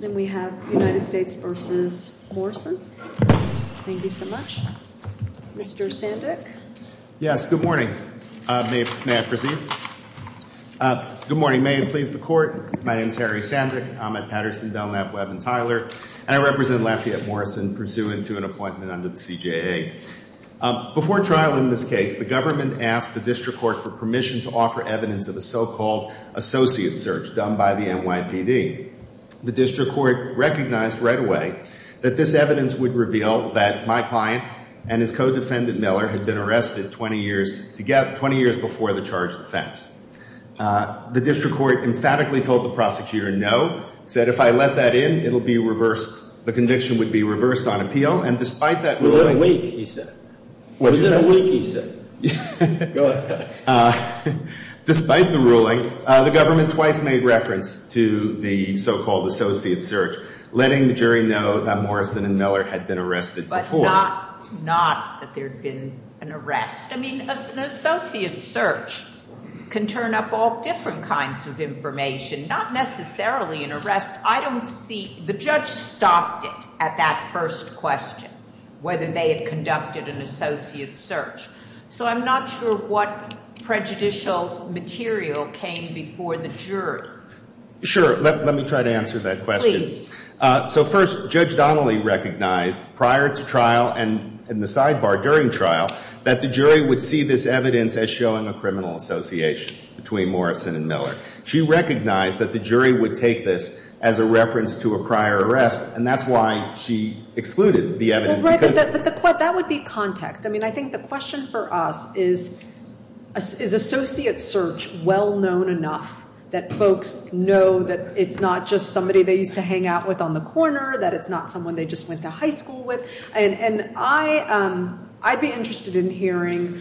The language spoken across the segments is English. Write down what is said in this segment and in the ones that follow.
Then we have United States v. Morrison. Thank you so much. Mr. Sandek. Yes, good morning. May I proceed? Good morning. May it please the Court, my name is Harry Sandek, I'm at Patterson, Dunlap, Webb & Tyler, and I represent Lafayette Morrison pursuant to an appointment under the CJA. Before trial in this case, the government asked the District Court for permission to offer evidence of the so-called associate search done by the NYPD. The District Court recognized right away that this evidence would reveal that my client and his co-defendant Miller had been arrested 20 years before the charge of offense. The District Court emphatically told the prosecutor no, said if I let that in, it'll be reversed, the conviction would be reversed on appeal, and despite that ruling... Within a week, he said. Within a week, he said. Go ahead. ...despite the ruling, the government twice made reference to the so-called associate search, letting the jury know that Morrison and Miller had been arrested before. But not that there'd been an arrest. I mean, an associate search can turn up all different kinds of information, not necessarily an arrest. I don't see, the judge stopped it at that first question, whether they had conducted an associate search. So I'm not sure what prejudicial material came before the jury. Sure. Let me try to answer that question. Please. So first, Judge Donnelly recognized prior to trial and in the sidebar during trial that the jury would see this evidence as showing a criminal association between Morrison and Miller. She recognized that the jury would take this as a reference to a prior arrest, and that's why she excluded the evidence because... Right, but that would be context. I mean, I think the question for us is, is associate search well-known enough that folks know that it's not just somebody they used to hang out with on the corner, that it's not someone they just went to high school with? And I'd be interested in hearing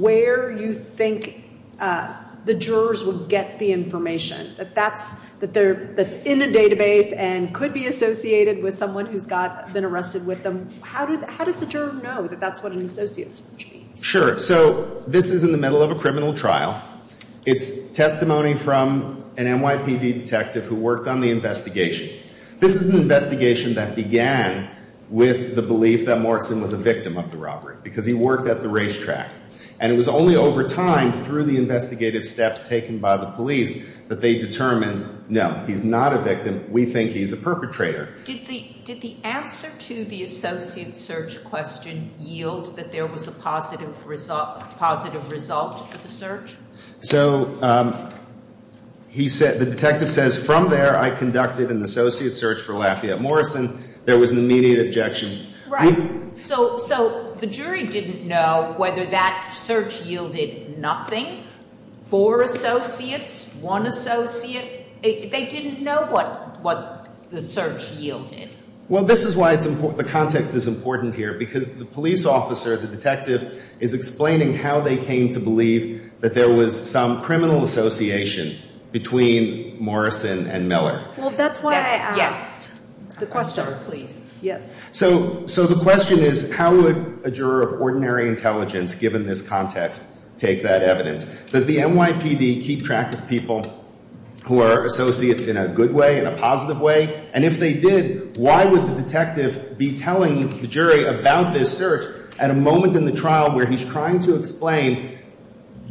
where you think the jurors would get the information that's in a database and could be associated with someone who's been arrested with them. How does the juror know that that's what an associate search means? Sure. So this is in the middle of a criminal trial. It's testimony from an NYPD detective who worked on the investigation. This is an investigation that began with the belief that Morrison was a victim of the robbery because he worked at the racetrack. And it was only over time through the investigative steps taken by the police that they determined, no, he's not a victim. We think he's a perpetrator. Did the answer to the associate search question yield that there was a positive result for the search? So the detective says, from there, I conducted an associate search for Lafayette Morrison. There was an immediate objection. Right. So the jury didn't know whether that search yielded nothing. Four associates, one associate, they didn't know what the search yielded. Well, this is why the context is important here because the police officer, the detective, is explaining how they came to believe that there was some criminal association between Morrison and Miller. Well, that's why I asked. The question, please. Yes. So the question is, how would a juror of ordinary intelligence, given this context, take that evidence? Does the NYPD keep track of people who are associates in a good way, in a positive way? And if they did, why would the detective be telling the jury about this search at a moment in the trial where he's trying to explain,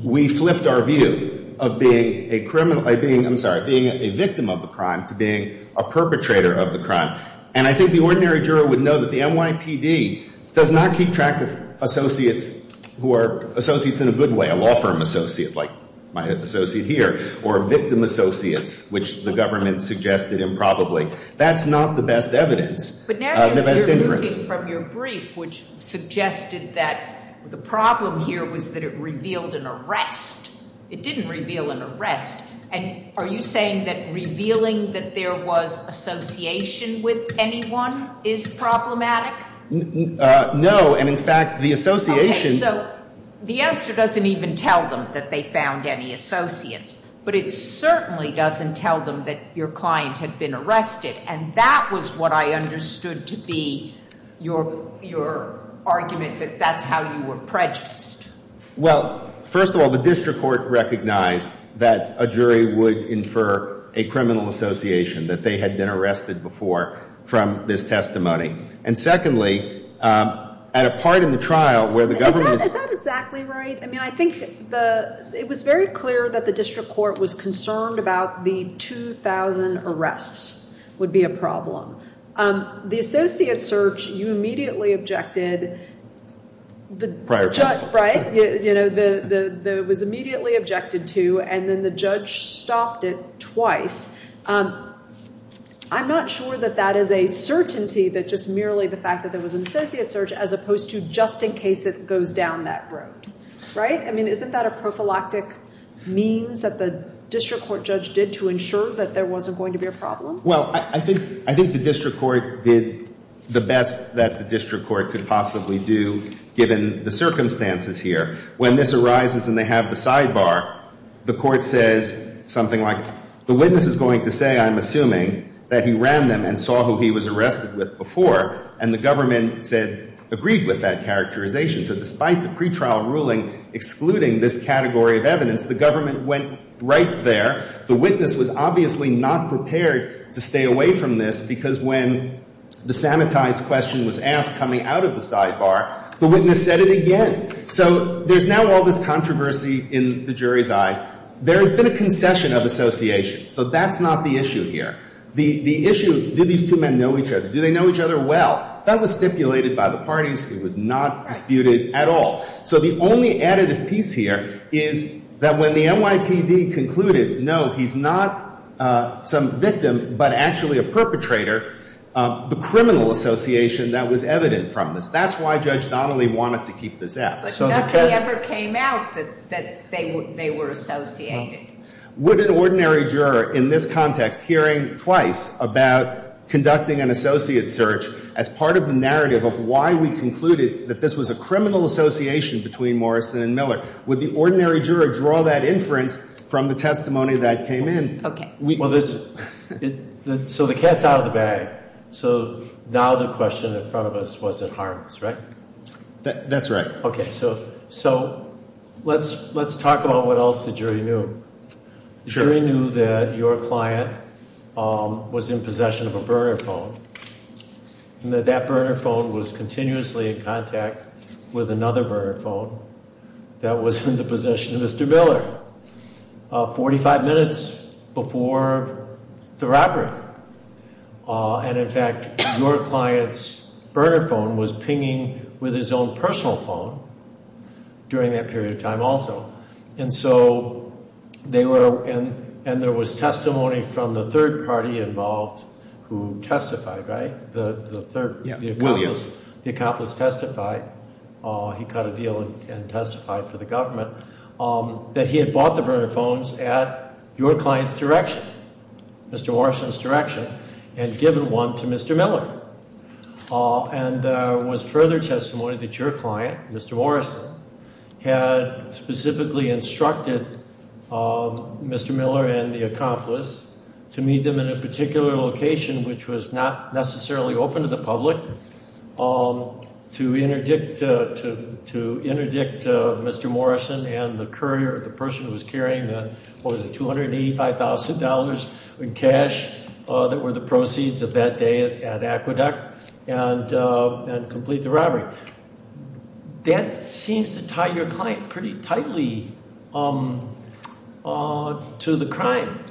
we flipped our view of being a victim of the crime to being a perpetrator of the crime? And I think the ordinary juror would know that the NYPD does not keep track of associates who are associates in a good way, a law firm associate, like my associate here, or victim associates, which the government suggested improbably. That's not the best evidence, the best inference. But from your brief, which suggested that the problem here was that it revealed an arrest. It didn't reveal an arrest. And are you saying that revealing that there was association with anyone is problematic? No. And in fact, the association- Okay. So the answer doesn't even tell them that they found any associates, but it certainly doesn't tell them that your client had been arrested. And that was what I understood to be your argument, that that's how you were prejudiced. Well, first of all, the district court recognized that a jury would infer a criminal association, that they had been arrested before from this testimony. And secondly, at a part in the trial where the government- Is that exactly right? I mean, I think it was very clear that the district court was concerned about the 2,000 arrests would be a problem. The associate search, you immediately objected- Prior to this. Right? It was immediately objected to, and then the judge stopped it twice. I'm not sure that that is a certainty, that just merely the fact that there was an associate search, as opposed to goes down that road. Right? I mean, isn't that a prophylactic means that the district court judge did to ensure that there wasn't going to be a problem? Well, I think the district court did the best that the district court could possibly do, given the circumstances here. When this arises and they have the sidebar, the court says something like, the witness is going to say, I'm assuming, that he ran them and saw who he was arrested with before, and the government said, agreed with that characterization. So despite the pretrial ruling excluding this category of evidence, the government went right there. The witness was obviously not prepared to stay away from this, because when the sanitized question was asked coming out of the sidebar, the witness said it again. So there's now all this controversy in the jury's eyes. There has been a concession of association. So that's not the issue here. The issue, do these two men know each other? Do they know each other well? That was stipulated by the parties. It was not disputed at all. So the only additive piece here is that when the NYPD concluded, no, he's not some victim, but actually a perpetrator, the criminal association that was evident from this. That's why Judge Donnelly wanted to keep this out. But nothing ever came out that they were associated. Would an ordinary juror, in this context, hearing twice about conducting an associate search as part of the narrative of why we concluded that this was a criminal association between Morrison and Miller, would the ordinary juror draw that inference from the testimony that came in? Okay. So the cat's out of the bag. So now the question in front of us was, it harms, right? That's right. Okay. So let's talk about what else the jury knew. The jury knew that your client was in possession of a burner phone and that that burner phone was continuously in contact with another burner phone that was in the possession of Mr. Miller 45 minutes before the robbery. And in fact, your client's burner phone was pinging with his own personal phone during that period of time also. And there was testimony from the third party involved who testified, right? The accomplice testified. He cut a deal and testified for the government that he had bought the burner phones at your client's direction, Mr. Morrison's direction, and given one to Mr. Miller. And there was further testimony that your client, Mr. Morrison, had specifically instructed Mr. Miller and the accomplice to meet them in a particular location, which was not necessarily open to the public, to interdict Mr. Morrison and the courier, the person who was carrying the, what was it, $285,000 in cash that were the proceeds of that day at Aqueduct and complete the robbery. That seems to tie your client pretty tightly to the crime,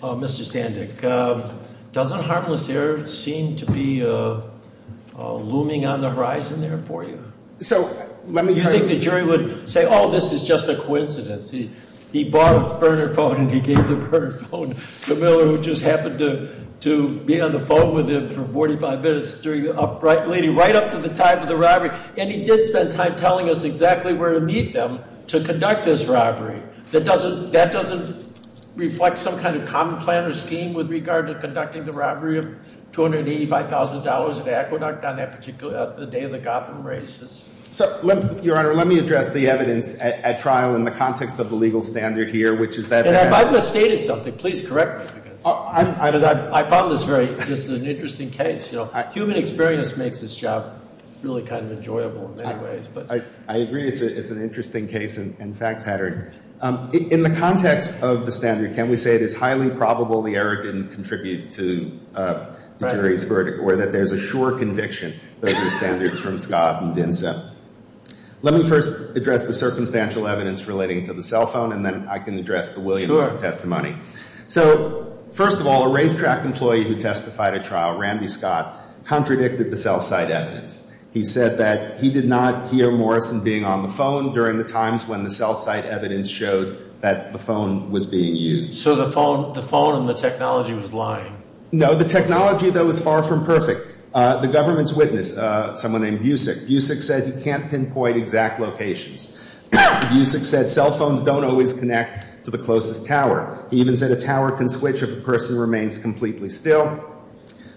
Mr. Sandek. Doesn't harmless error seem to be looming on the horizon there for you? You think the jury would say, oh, this is just a coincidence. He bought a burner phone and he gave the burner phone to Miller, who just happened to be on the phone with him for 45 minutes during the upright lady, right up to the time of the robbery. And he did spend time telling us exactly where to meet them to conduct this robbery. That doesn't reflect some kind of common plan or scheme with regard to conducting the robbery of $285,000 at Aqueduct on that particular day of the Gotham races. So your Honor, let me address the evidence at trial in the context of the legal standard here, which is that- And if I've misstated something, please correct me. I found this very, this is an interesting case. Human experience makes this job really kind of enjoyable in many ways. I agree. It's an interesting case and fact pattern. In the context of the standard, can we say it is highly probable the error didn't contribute to the jury's verdict or that there's a sure conviction, those are the standards from Scott and Dinsa? Let me first address the circumstantial evidence relating to the cell phone and then I can address the Williamson testimony. So first of all, a racetrack employee who testified at trial, Randy Scott, contradicted the cell site evidence. He said that he did not hear Morrison being on the phone during the times when the cell site evidence showed that the phone was being used. So the phone and the technology was lying? No, the technology though was far from perfect. The government's witness, someone named Busick, Busick said he can't pinpoint exact locations. Busick said cell phones don't always connect to the closest tower. He even said a tower can switch if a person remains completely still.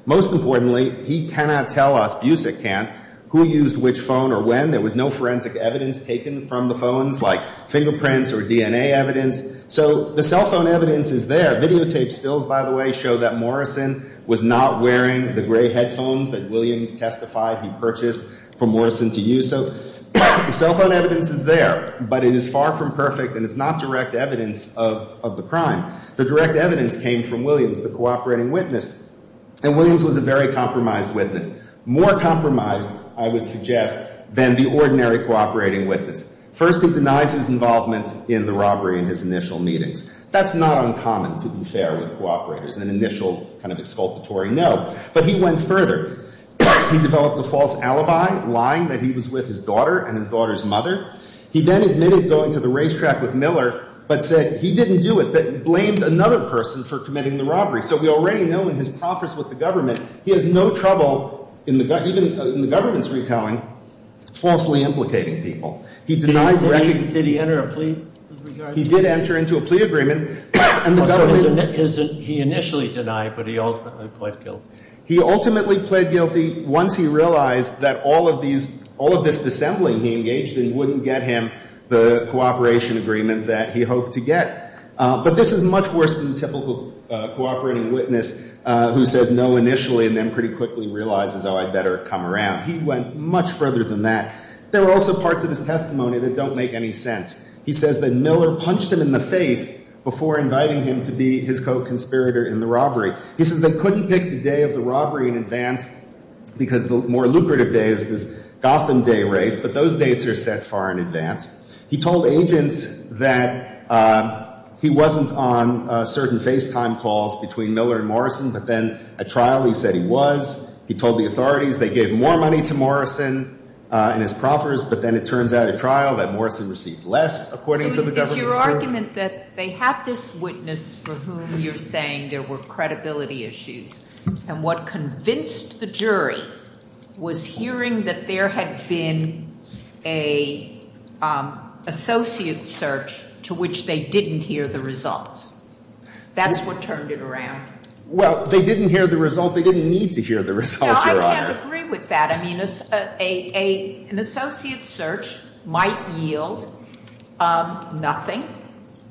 Most importantly, he cannot tell us, Busick can't, who used which phone or when. There was no forensic evidence taken from the phones, like fingerprints or DNA evidence. So the cell phone evidence is there. Video tape stills, by the way, show that Morrison was not wearing the gray headphones that Williams testified he purchased from Morrison to use. So the cell phone evidence is there, but it is far from perfect and it's not direct evidence of the crime. The direct evidence came from Williams, the cooperating witness. And Williams was a very compromised witness, more compromised, I would suggest, than the ordinary cooperating witness. First, he denies his involvement in the robbery in his initial meetings. That's not uncommon, to be fair with cooperators, an initial kind of exculpatory no. But he went further. He developed a false alibi, lying that he was with his daughter and his daughter's mother. He then admitted going to the racetrack with Miller, but said he didn't do it, but blamed another person for committing the robbery. So we already know in his profits with the government, he has no trouble, even in the government's retelling, falsely implicating people. He denied the record. Did he enter a plea? He did enter into a plea agreement. He initially denied, but he ultimately pled guilty. He ultimately pled guilty once he realized that all of these, all of this dissembling he engaged in wouldn't get him the cooperation agreement that he hoped to get. But this is much worse than the typical cooperating witness who says no initially and then pretty quickly realizes, oh, I'd better come around. He went much further than that. There are also parts of his testimony that don't make any sense. He says that Miller punched him in the face before inviting him to be his co-conspirator in the robbery. He says they couldn't pick the day of the robbery in advance because the more lucrative day is this Gotham race, but those dates are set far in advance. He told agents that he wasn't on certain FaceTime calls between Miller and Morrison, but then at trial, he said he was. He told the authorities they gave more money to Morrison in his proffers, but then it turns out at trial that Morrison received less, according to the government. Is your argument that they had this witness for whom you're saying there were credibility issues? And what convinced the jury was hearing that there had been an associate search to which they didn't hear the results. That's what turned it around. Well, they didn't hear the result. They didn't need to hear the results. I can't agree with that. I mean, an associate search might yield nothing,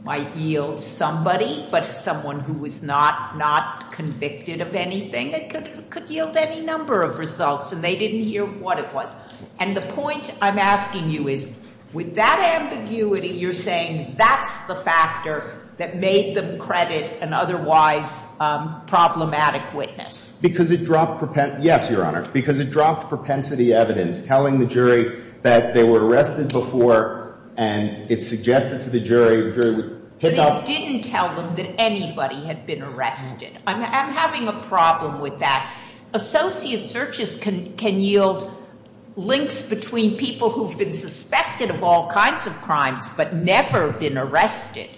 might yield somebody, but someone who was not convicted of anything, it could yield any number of results. And they didn't hear what it was. And the point I'm asking you is, with that ambiguity, you're saying that's the factor that made them credit an otherwise problematic witness? Because it dropped propensity, yes, Your Honor, because it dropped propensity evidence telling the jury that they were arrested before and it suggested to the jury, the jury would pick up. But it didn't tell them that anybody had been arrested. I'm having a problem with that. Associate searches can yield links between people who've been suspected of all kinds of crimes but never been arrested.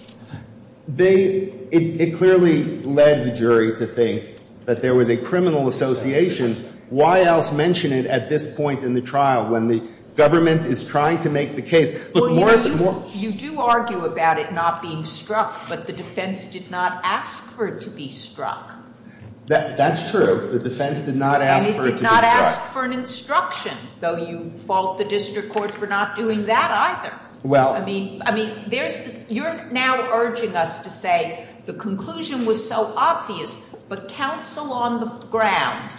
It clearly led the jury to think that there was a criminal association. Why else mention it at this point in the trial when the government is trying to make the case? You do argue about it not being struck, but the defense did not ask for it to be struck. That's true. The defense did not ask for it to be struck. And it did not ask for an instruction, though you fault the district courts for not doing that either. Well, I mean, I mean, there's, you're now urging us to say the conclusion was so obvious, but counsel on the ground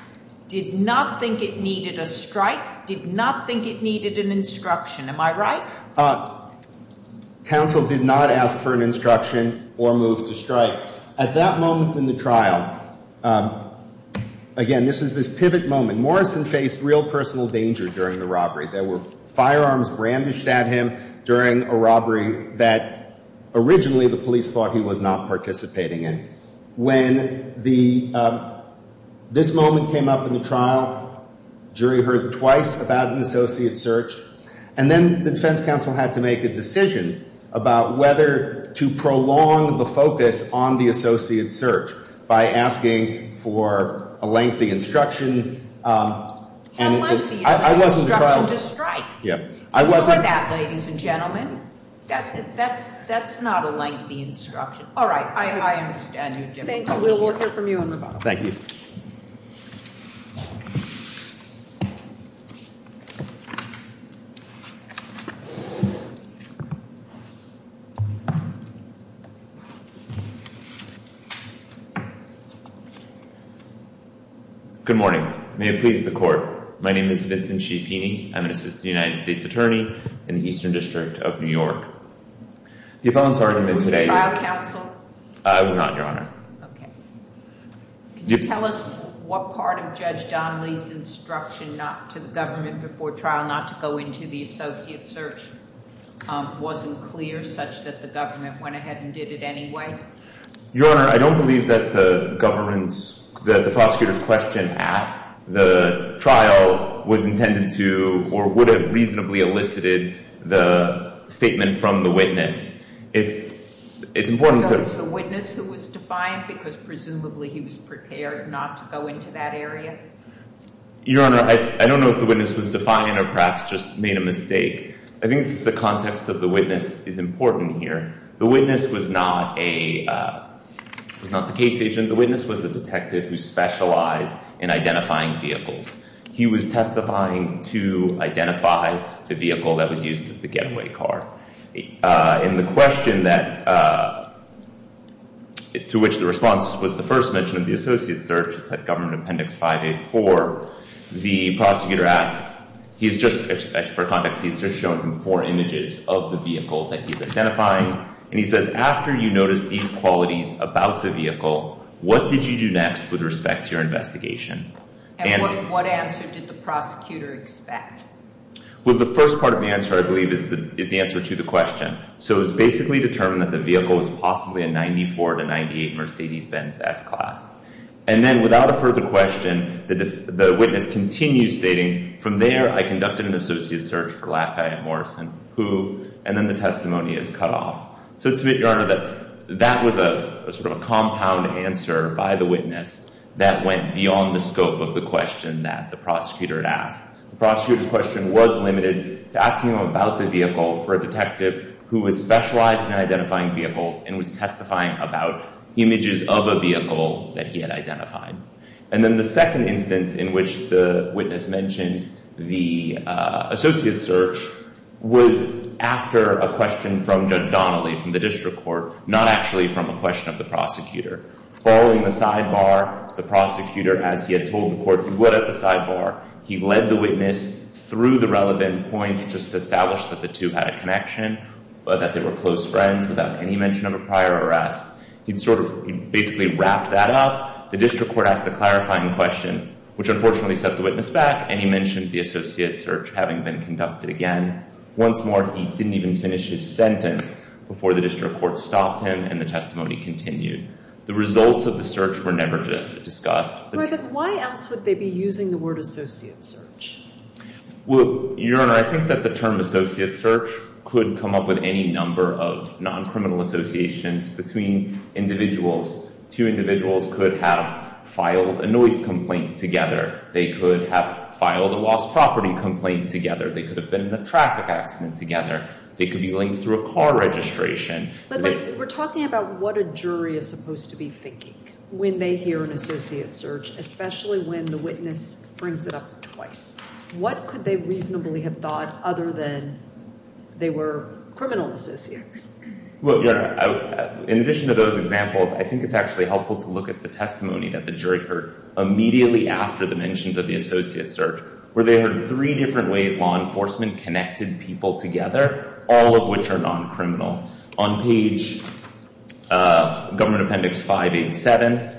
did not think it needed a strike, did not think it needed an instruction. Am I right? Counsel did not ask for an instruction or move to strike. At that moment in the trial, again, this is this pivot moment. Morrison faced real personal danger during the robbery. There were firearms brandished at him during a robbery that originally the police thought he was not participating in. When the, this moment came up in the trial, jury heard twice about an associate search, and then the defense counsel had to make a decision about whether to prolong the focus on the associate search by asking for a lengthy instruction. And I wasn't trying to strike. Yep. I wasn't that ladies and gentlemen. That's, that's, that's not a lengthy instruction. All right. I understand you. Thank you. Good morning. May it please the court. My name is Vincent Cipini. I'm an assistant United States attorney in the Eastern district of New York. The opponents argument today, I was not your honor. Okay. Can you tell us what part of judge Donnelly's instruction, not to the government before trial, not to go into the associate search, um, wasn't clear such that the government went ahead and did it anyway? Your honor, I don't believe that the governance, that the prosecutor's question at the trial was intended to, or would have reasonably elicited the statement from the witness. It's important to the witness who was defiant because presumably he was prepared not to go into that area. Your honor, I don't know if the witness was defiant or perhaps just made a mistake. I think it's the context of the witness is important here. The witness was not a, uh, was not the case agent. The witness was a detective who specialized in identifying vehicles. He was testifying to identify the vehicle that was used as the getaway car. Uh, and the question that, uh, to which the response was the first mention of the associate search, it's at government appendix 584. The prosecutor asked, he's just for context, he's just shown him four images of the vehicle that he's identifying. And he says, after you notice these qualities about the vehicle, what did you do next with respect to your investigation? And what answer did the prosecutor expect? Well, the first part of the answer I believe is the, is the answer to the question. So it was basically determined that the vehicle was possibly a 94 to 98 Mercedes Benz S class. And then without a further question, the witness continues stating from there, I conducted an associate search for Latke and Morrison, who, and then the testimony is cut off. So it's to sort of a compound answer by the witness that went beyond the scope of the question that the prosecutor had asked. The prosecutor's question was limited to asking him about the vehicle for a detective who was specialized in identifying vehicles and was testifying about images of a vehicle that he had identified. And then the second instance in which the witness mentioned the, uh, associate search was after a question from Judge Donnelly from the district court, not actually from a question of the prosecutor. Following the sidebar, the prosecutor, as he had told the court he would at the sidebar, he led the witness through the relevant points, just established that the two had a connection, but that they were close friends without any mention of a prior arrest. He'd sort of basically wrapped that up. The district court asked a clarifying question, which unfortunately set the witness back. And he mentioned the associate search having been conducted again. Once more, he didn't even finish his sentence before the district court stopped him and the testimony continued. The results of the search were never discussed. But why else would they be using the word associate search? Well, Your Honor, I think that the term associate search could come up with any number of non-criminal associations between individuals. Two individuals could have filed a noise complaint together. They could have filed a lost property complaint together. They could have been in a traffic accident together. They could be linked through a car registration. But, like, we're talking about what a jury is supposed to be thinking when they hear an associate search, especially when the witness brings it up twice. What could they reasonably have thought other than they were criminal associates? Well, Your Honor, in addition to those examples, I think it's actually helpful to look at the testimony that the jury heard immediately after the mentions of the associate search, where they heard three different ways law enforcement connected people together, all of which are non-criminal. On page of Government Appendix 587,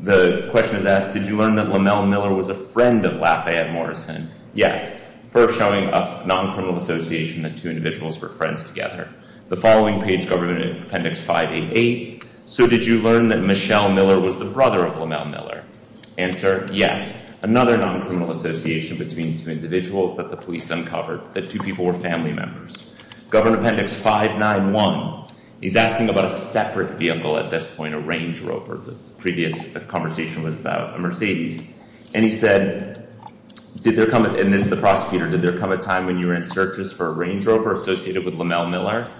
the question is asked, did you learn that LaMel Miller was a friend of LaFayette Morrison? Yes. First showing a non-criminal association that two individuals were friends together. The following page, Government Appendix 588, so did you learn that Michelle Miller was the brother of LaMel Miller? Answer, yes. Another non-criminal association between two individuals that the police uncovered, that two people were family members. Government Appendix 591, he's asking about a separate vehicle at this point, a Range Rover. The previous conversation was about a Mercedes. And he said, did there come, and this is the prosecutor, did there come a time when you were in searches for a Range Rover associated with LaMel Miller?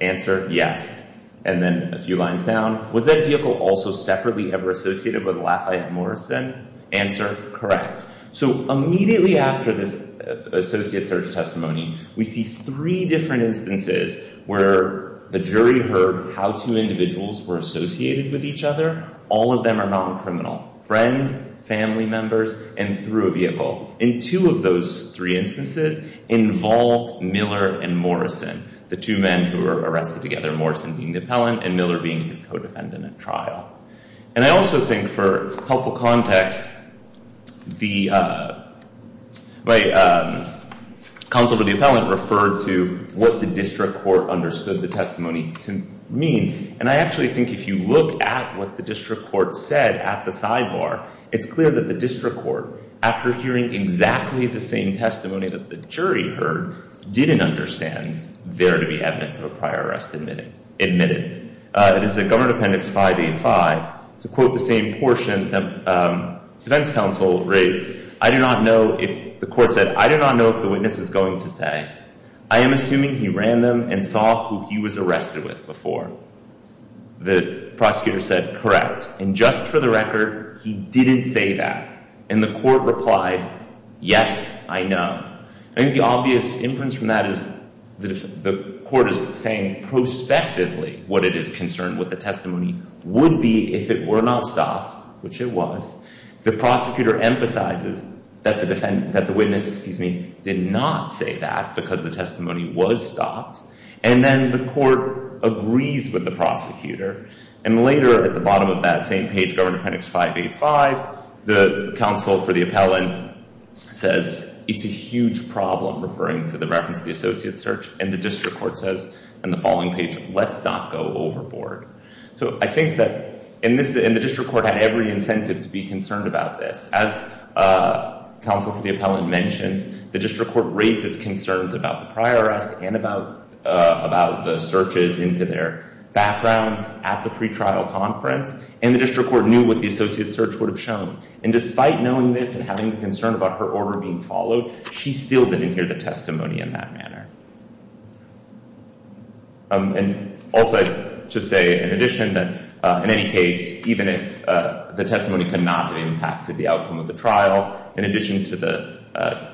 Answer, yes. And then a few lines down, was that vehicle also separately ever associated with LaFayette Morrison? Answer, correct. So immediately after this associate search testimony, we see three different instances where the jury heard how two individuals were associated with each other. All of them are non-criminal, friends, family members, and through a vehicle. In two of those three instances, involved Miller and Morrison, the two men who were arrested together, Morrison being the appellant and Miller being his co-defendant at trial. And I also think for helpful context, the counsel to the appellant referred to what the district court understood the testimony to mean. And I actually think if you look at what the district court said at the sidebar, it's clear that the district court, after hearing exactly the same testimony that the jury heard, didn't understand there to be evidence of a prior arrest admitted. It is a Governor Appendix 585, to quote the same portion the defense counsel raised, the court said, I do not know if the witness is going to say, I am assuming he ran them and saw who he was arrested with before. The prosecutor said, correct. And just for the record, he didn't say that. And the court replied, yes, I know. And the obvious inference from that is the court is saying prospectively what it is concerned with the testimony would be if it were not stopped, which it was. The prosecutor emphasizes that the witness did not say that because the testimony was stopped. And then the court agrees with the prosecutor. And later at the bottom of that same page, Governor Appendix 585, the counsel for the appellant says, it's a huge problem, referring to the reference to the associate search. And the district court says on the following page, let's not go overboard. So I think that in this, and the district court had every incentive to be concerned about this. As counsel for the appellant mentions, the district court raised its concerns about the prior arrest and about the searches into their backgrounds at the pretrial conference. And the district court knew what the associate search would have shown. And despite knowing this and having concern about her order being followed, she still didn't hear the testimony in that manner. And also, I should say, in addition, that in any case, even if the testimony could not have impacted the outcome of the trial, in addition to the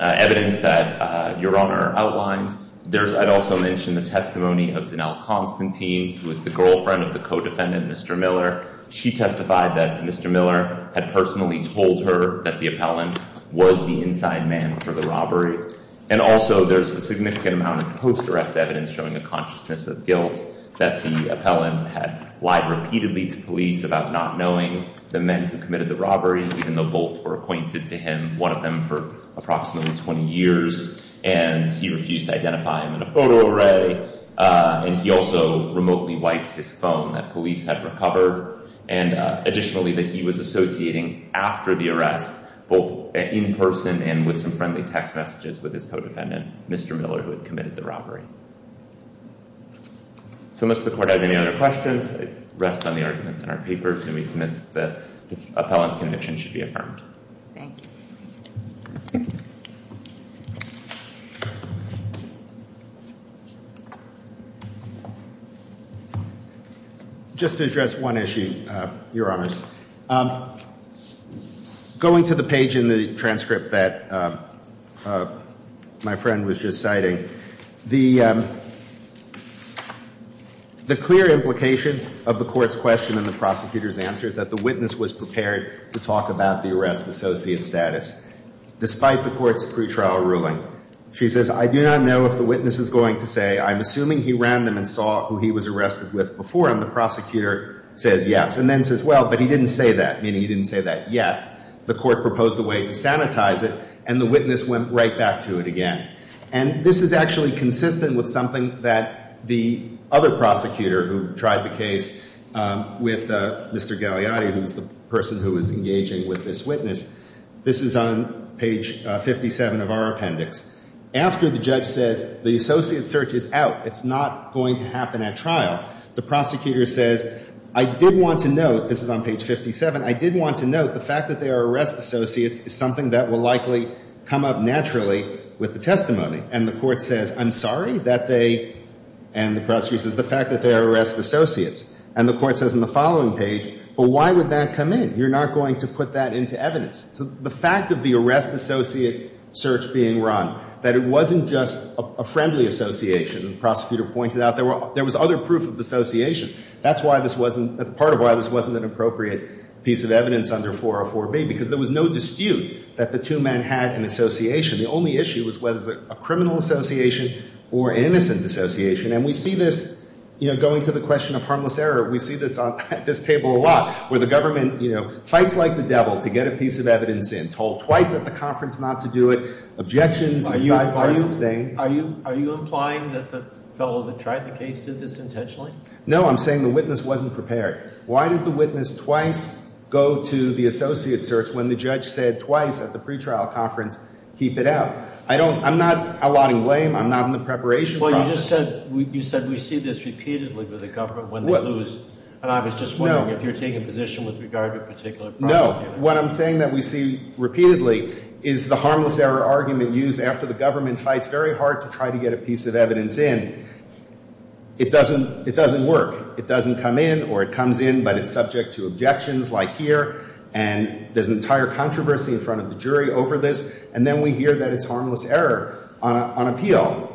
evidence that Your Honor outlined, I'd also mention the testimony of Zanelle Constantine, who was the girlfriend of the co-defendant, Mr. Miller. She testified that Mr. Miller had personally told her that the appellant was the inside man for the robbery. And also, there's a significant amount of post arrest evidence showing a consciousness of guilt that the appellant had lied repeatedly to police about not knowing the men who committed the robbery, even though both were acquainted to him, one of them for approximately 20 years. And he refused to identify him in a photo array. And he also remotely wiped his phone that police had recovered. And additionally, that he was associating, after the arrest, both in person and with some friendly text messages with his co-defendant, Mr. Miller, who had committed the robbery. So must the court have any other questions? I rest on the arguments in our papers. And we submit that the appellant's should be affirmed. Just to address one issue, Your Honors. Going to the page in the transcript that my friend was just citing, the clear implication of the court's question and the the arrest associate status. Despite the court's pre-trial ruling, she says, I do not know if the witness is going to say, I'm assuming he ran them and saw who he was arrested with before him. The prosecutor says yes. And then says, well, but he didn't say that. Meaning he didn't say that yet. The court proposed a way to sanitize it. And the witness went right back to it again. And this is actually consistent with something that the other prosecutor who tried the case with Mr. Gagliotti, who was the person who was engaging with this witness. This is on page 57 of our appendix. After the judge says, the associate search is out. It's not going to happen at trial. The prosecutor says, I did want to note, this is on page 57, I did want to note the fact that they are arrest associates is something that will likely come up naturally with the testimony. And the court says, I'm sorry that they, and the prosecutor says, the fact that they are arrest associates. And the court says in the following page, but why would that come in? You're not going to put that into evidence. So the fact of the arrest associate search being run, that it wasn't just a friendly association, as the prosecutor pointed out, there were, there was other proof of association. That's why this wasn't, that's part of why this wasn't an appropriate piece of evidence under 404B, because there was no dispute that the two men had an association. The only issue was whether it was a criminal association or an innocent association. And we see this, you know, going to the question of harmless error. We see this on this table a lot, where the government, you know, fights like the devil to get a piece of evidence in. Told twice at the conference not to do it. Objections. Are you implying that the fellow that tried the case did this intentionally? No, I'm saying the witness wasn't prepared. Why did the witness twice go to the associate search when the judge said twice at the pretrial conference, keep it out? I don't, I'm not allotting blame. I'm not in the preparation process. Well, you just said, you said we see this repeatedly with the government when they lose. And I was just wondering if you're taking a position with regard to a particular prosecutor. No. What I'm saying that we see repeatedly is the harmless error argument used after the government fights very hard to try to get a piece of evidence in. It doesn't, it doesn't work. It doesn't come in or it comes in, but it's subject to objections like here. And there's an entire controversy in front of the jury over this. And then we hear that it's harmless error on appeal.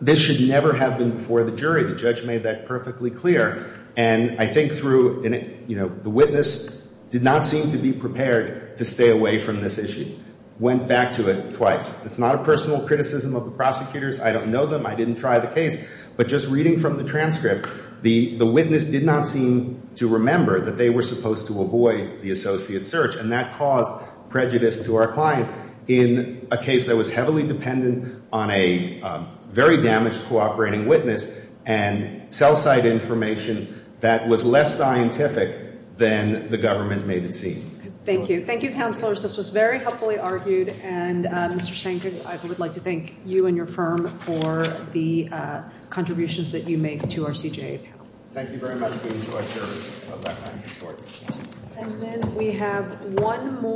This should never have been before the jury. The judge made that perfectly clear. And I think through, you know, the witness did not seem to be prepared to stay away from this issue. Went back to it twice. It's not a personal criticism of the prosecutors. I don't know them. I didn't try the case. But just reading from the transcript, the witness did not seem to remember that they were supposed to avoid the associate search. And that caused prejudice to our client in a case that was heavily dependent on a very damaged cooperating witness and cell site information that was less scientific than the government made it seem. Thank you. Thank you, Counselors. This was very helpfully argued. And Mr. Shanker, I would like to thank you and your firm for the contributions that you make to Thank you very much. We have one more.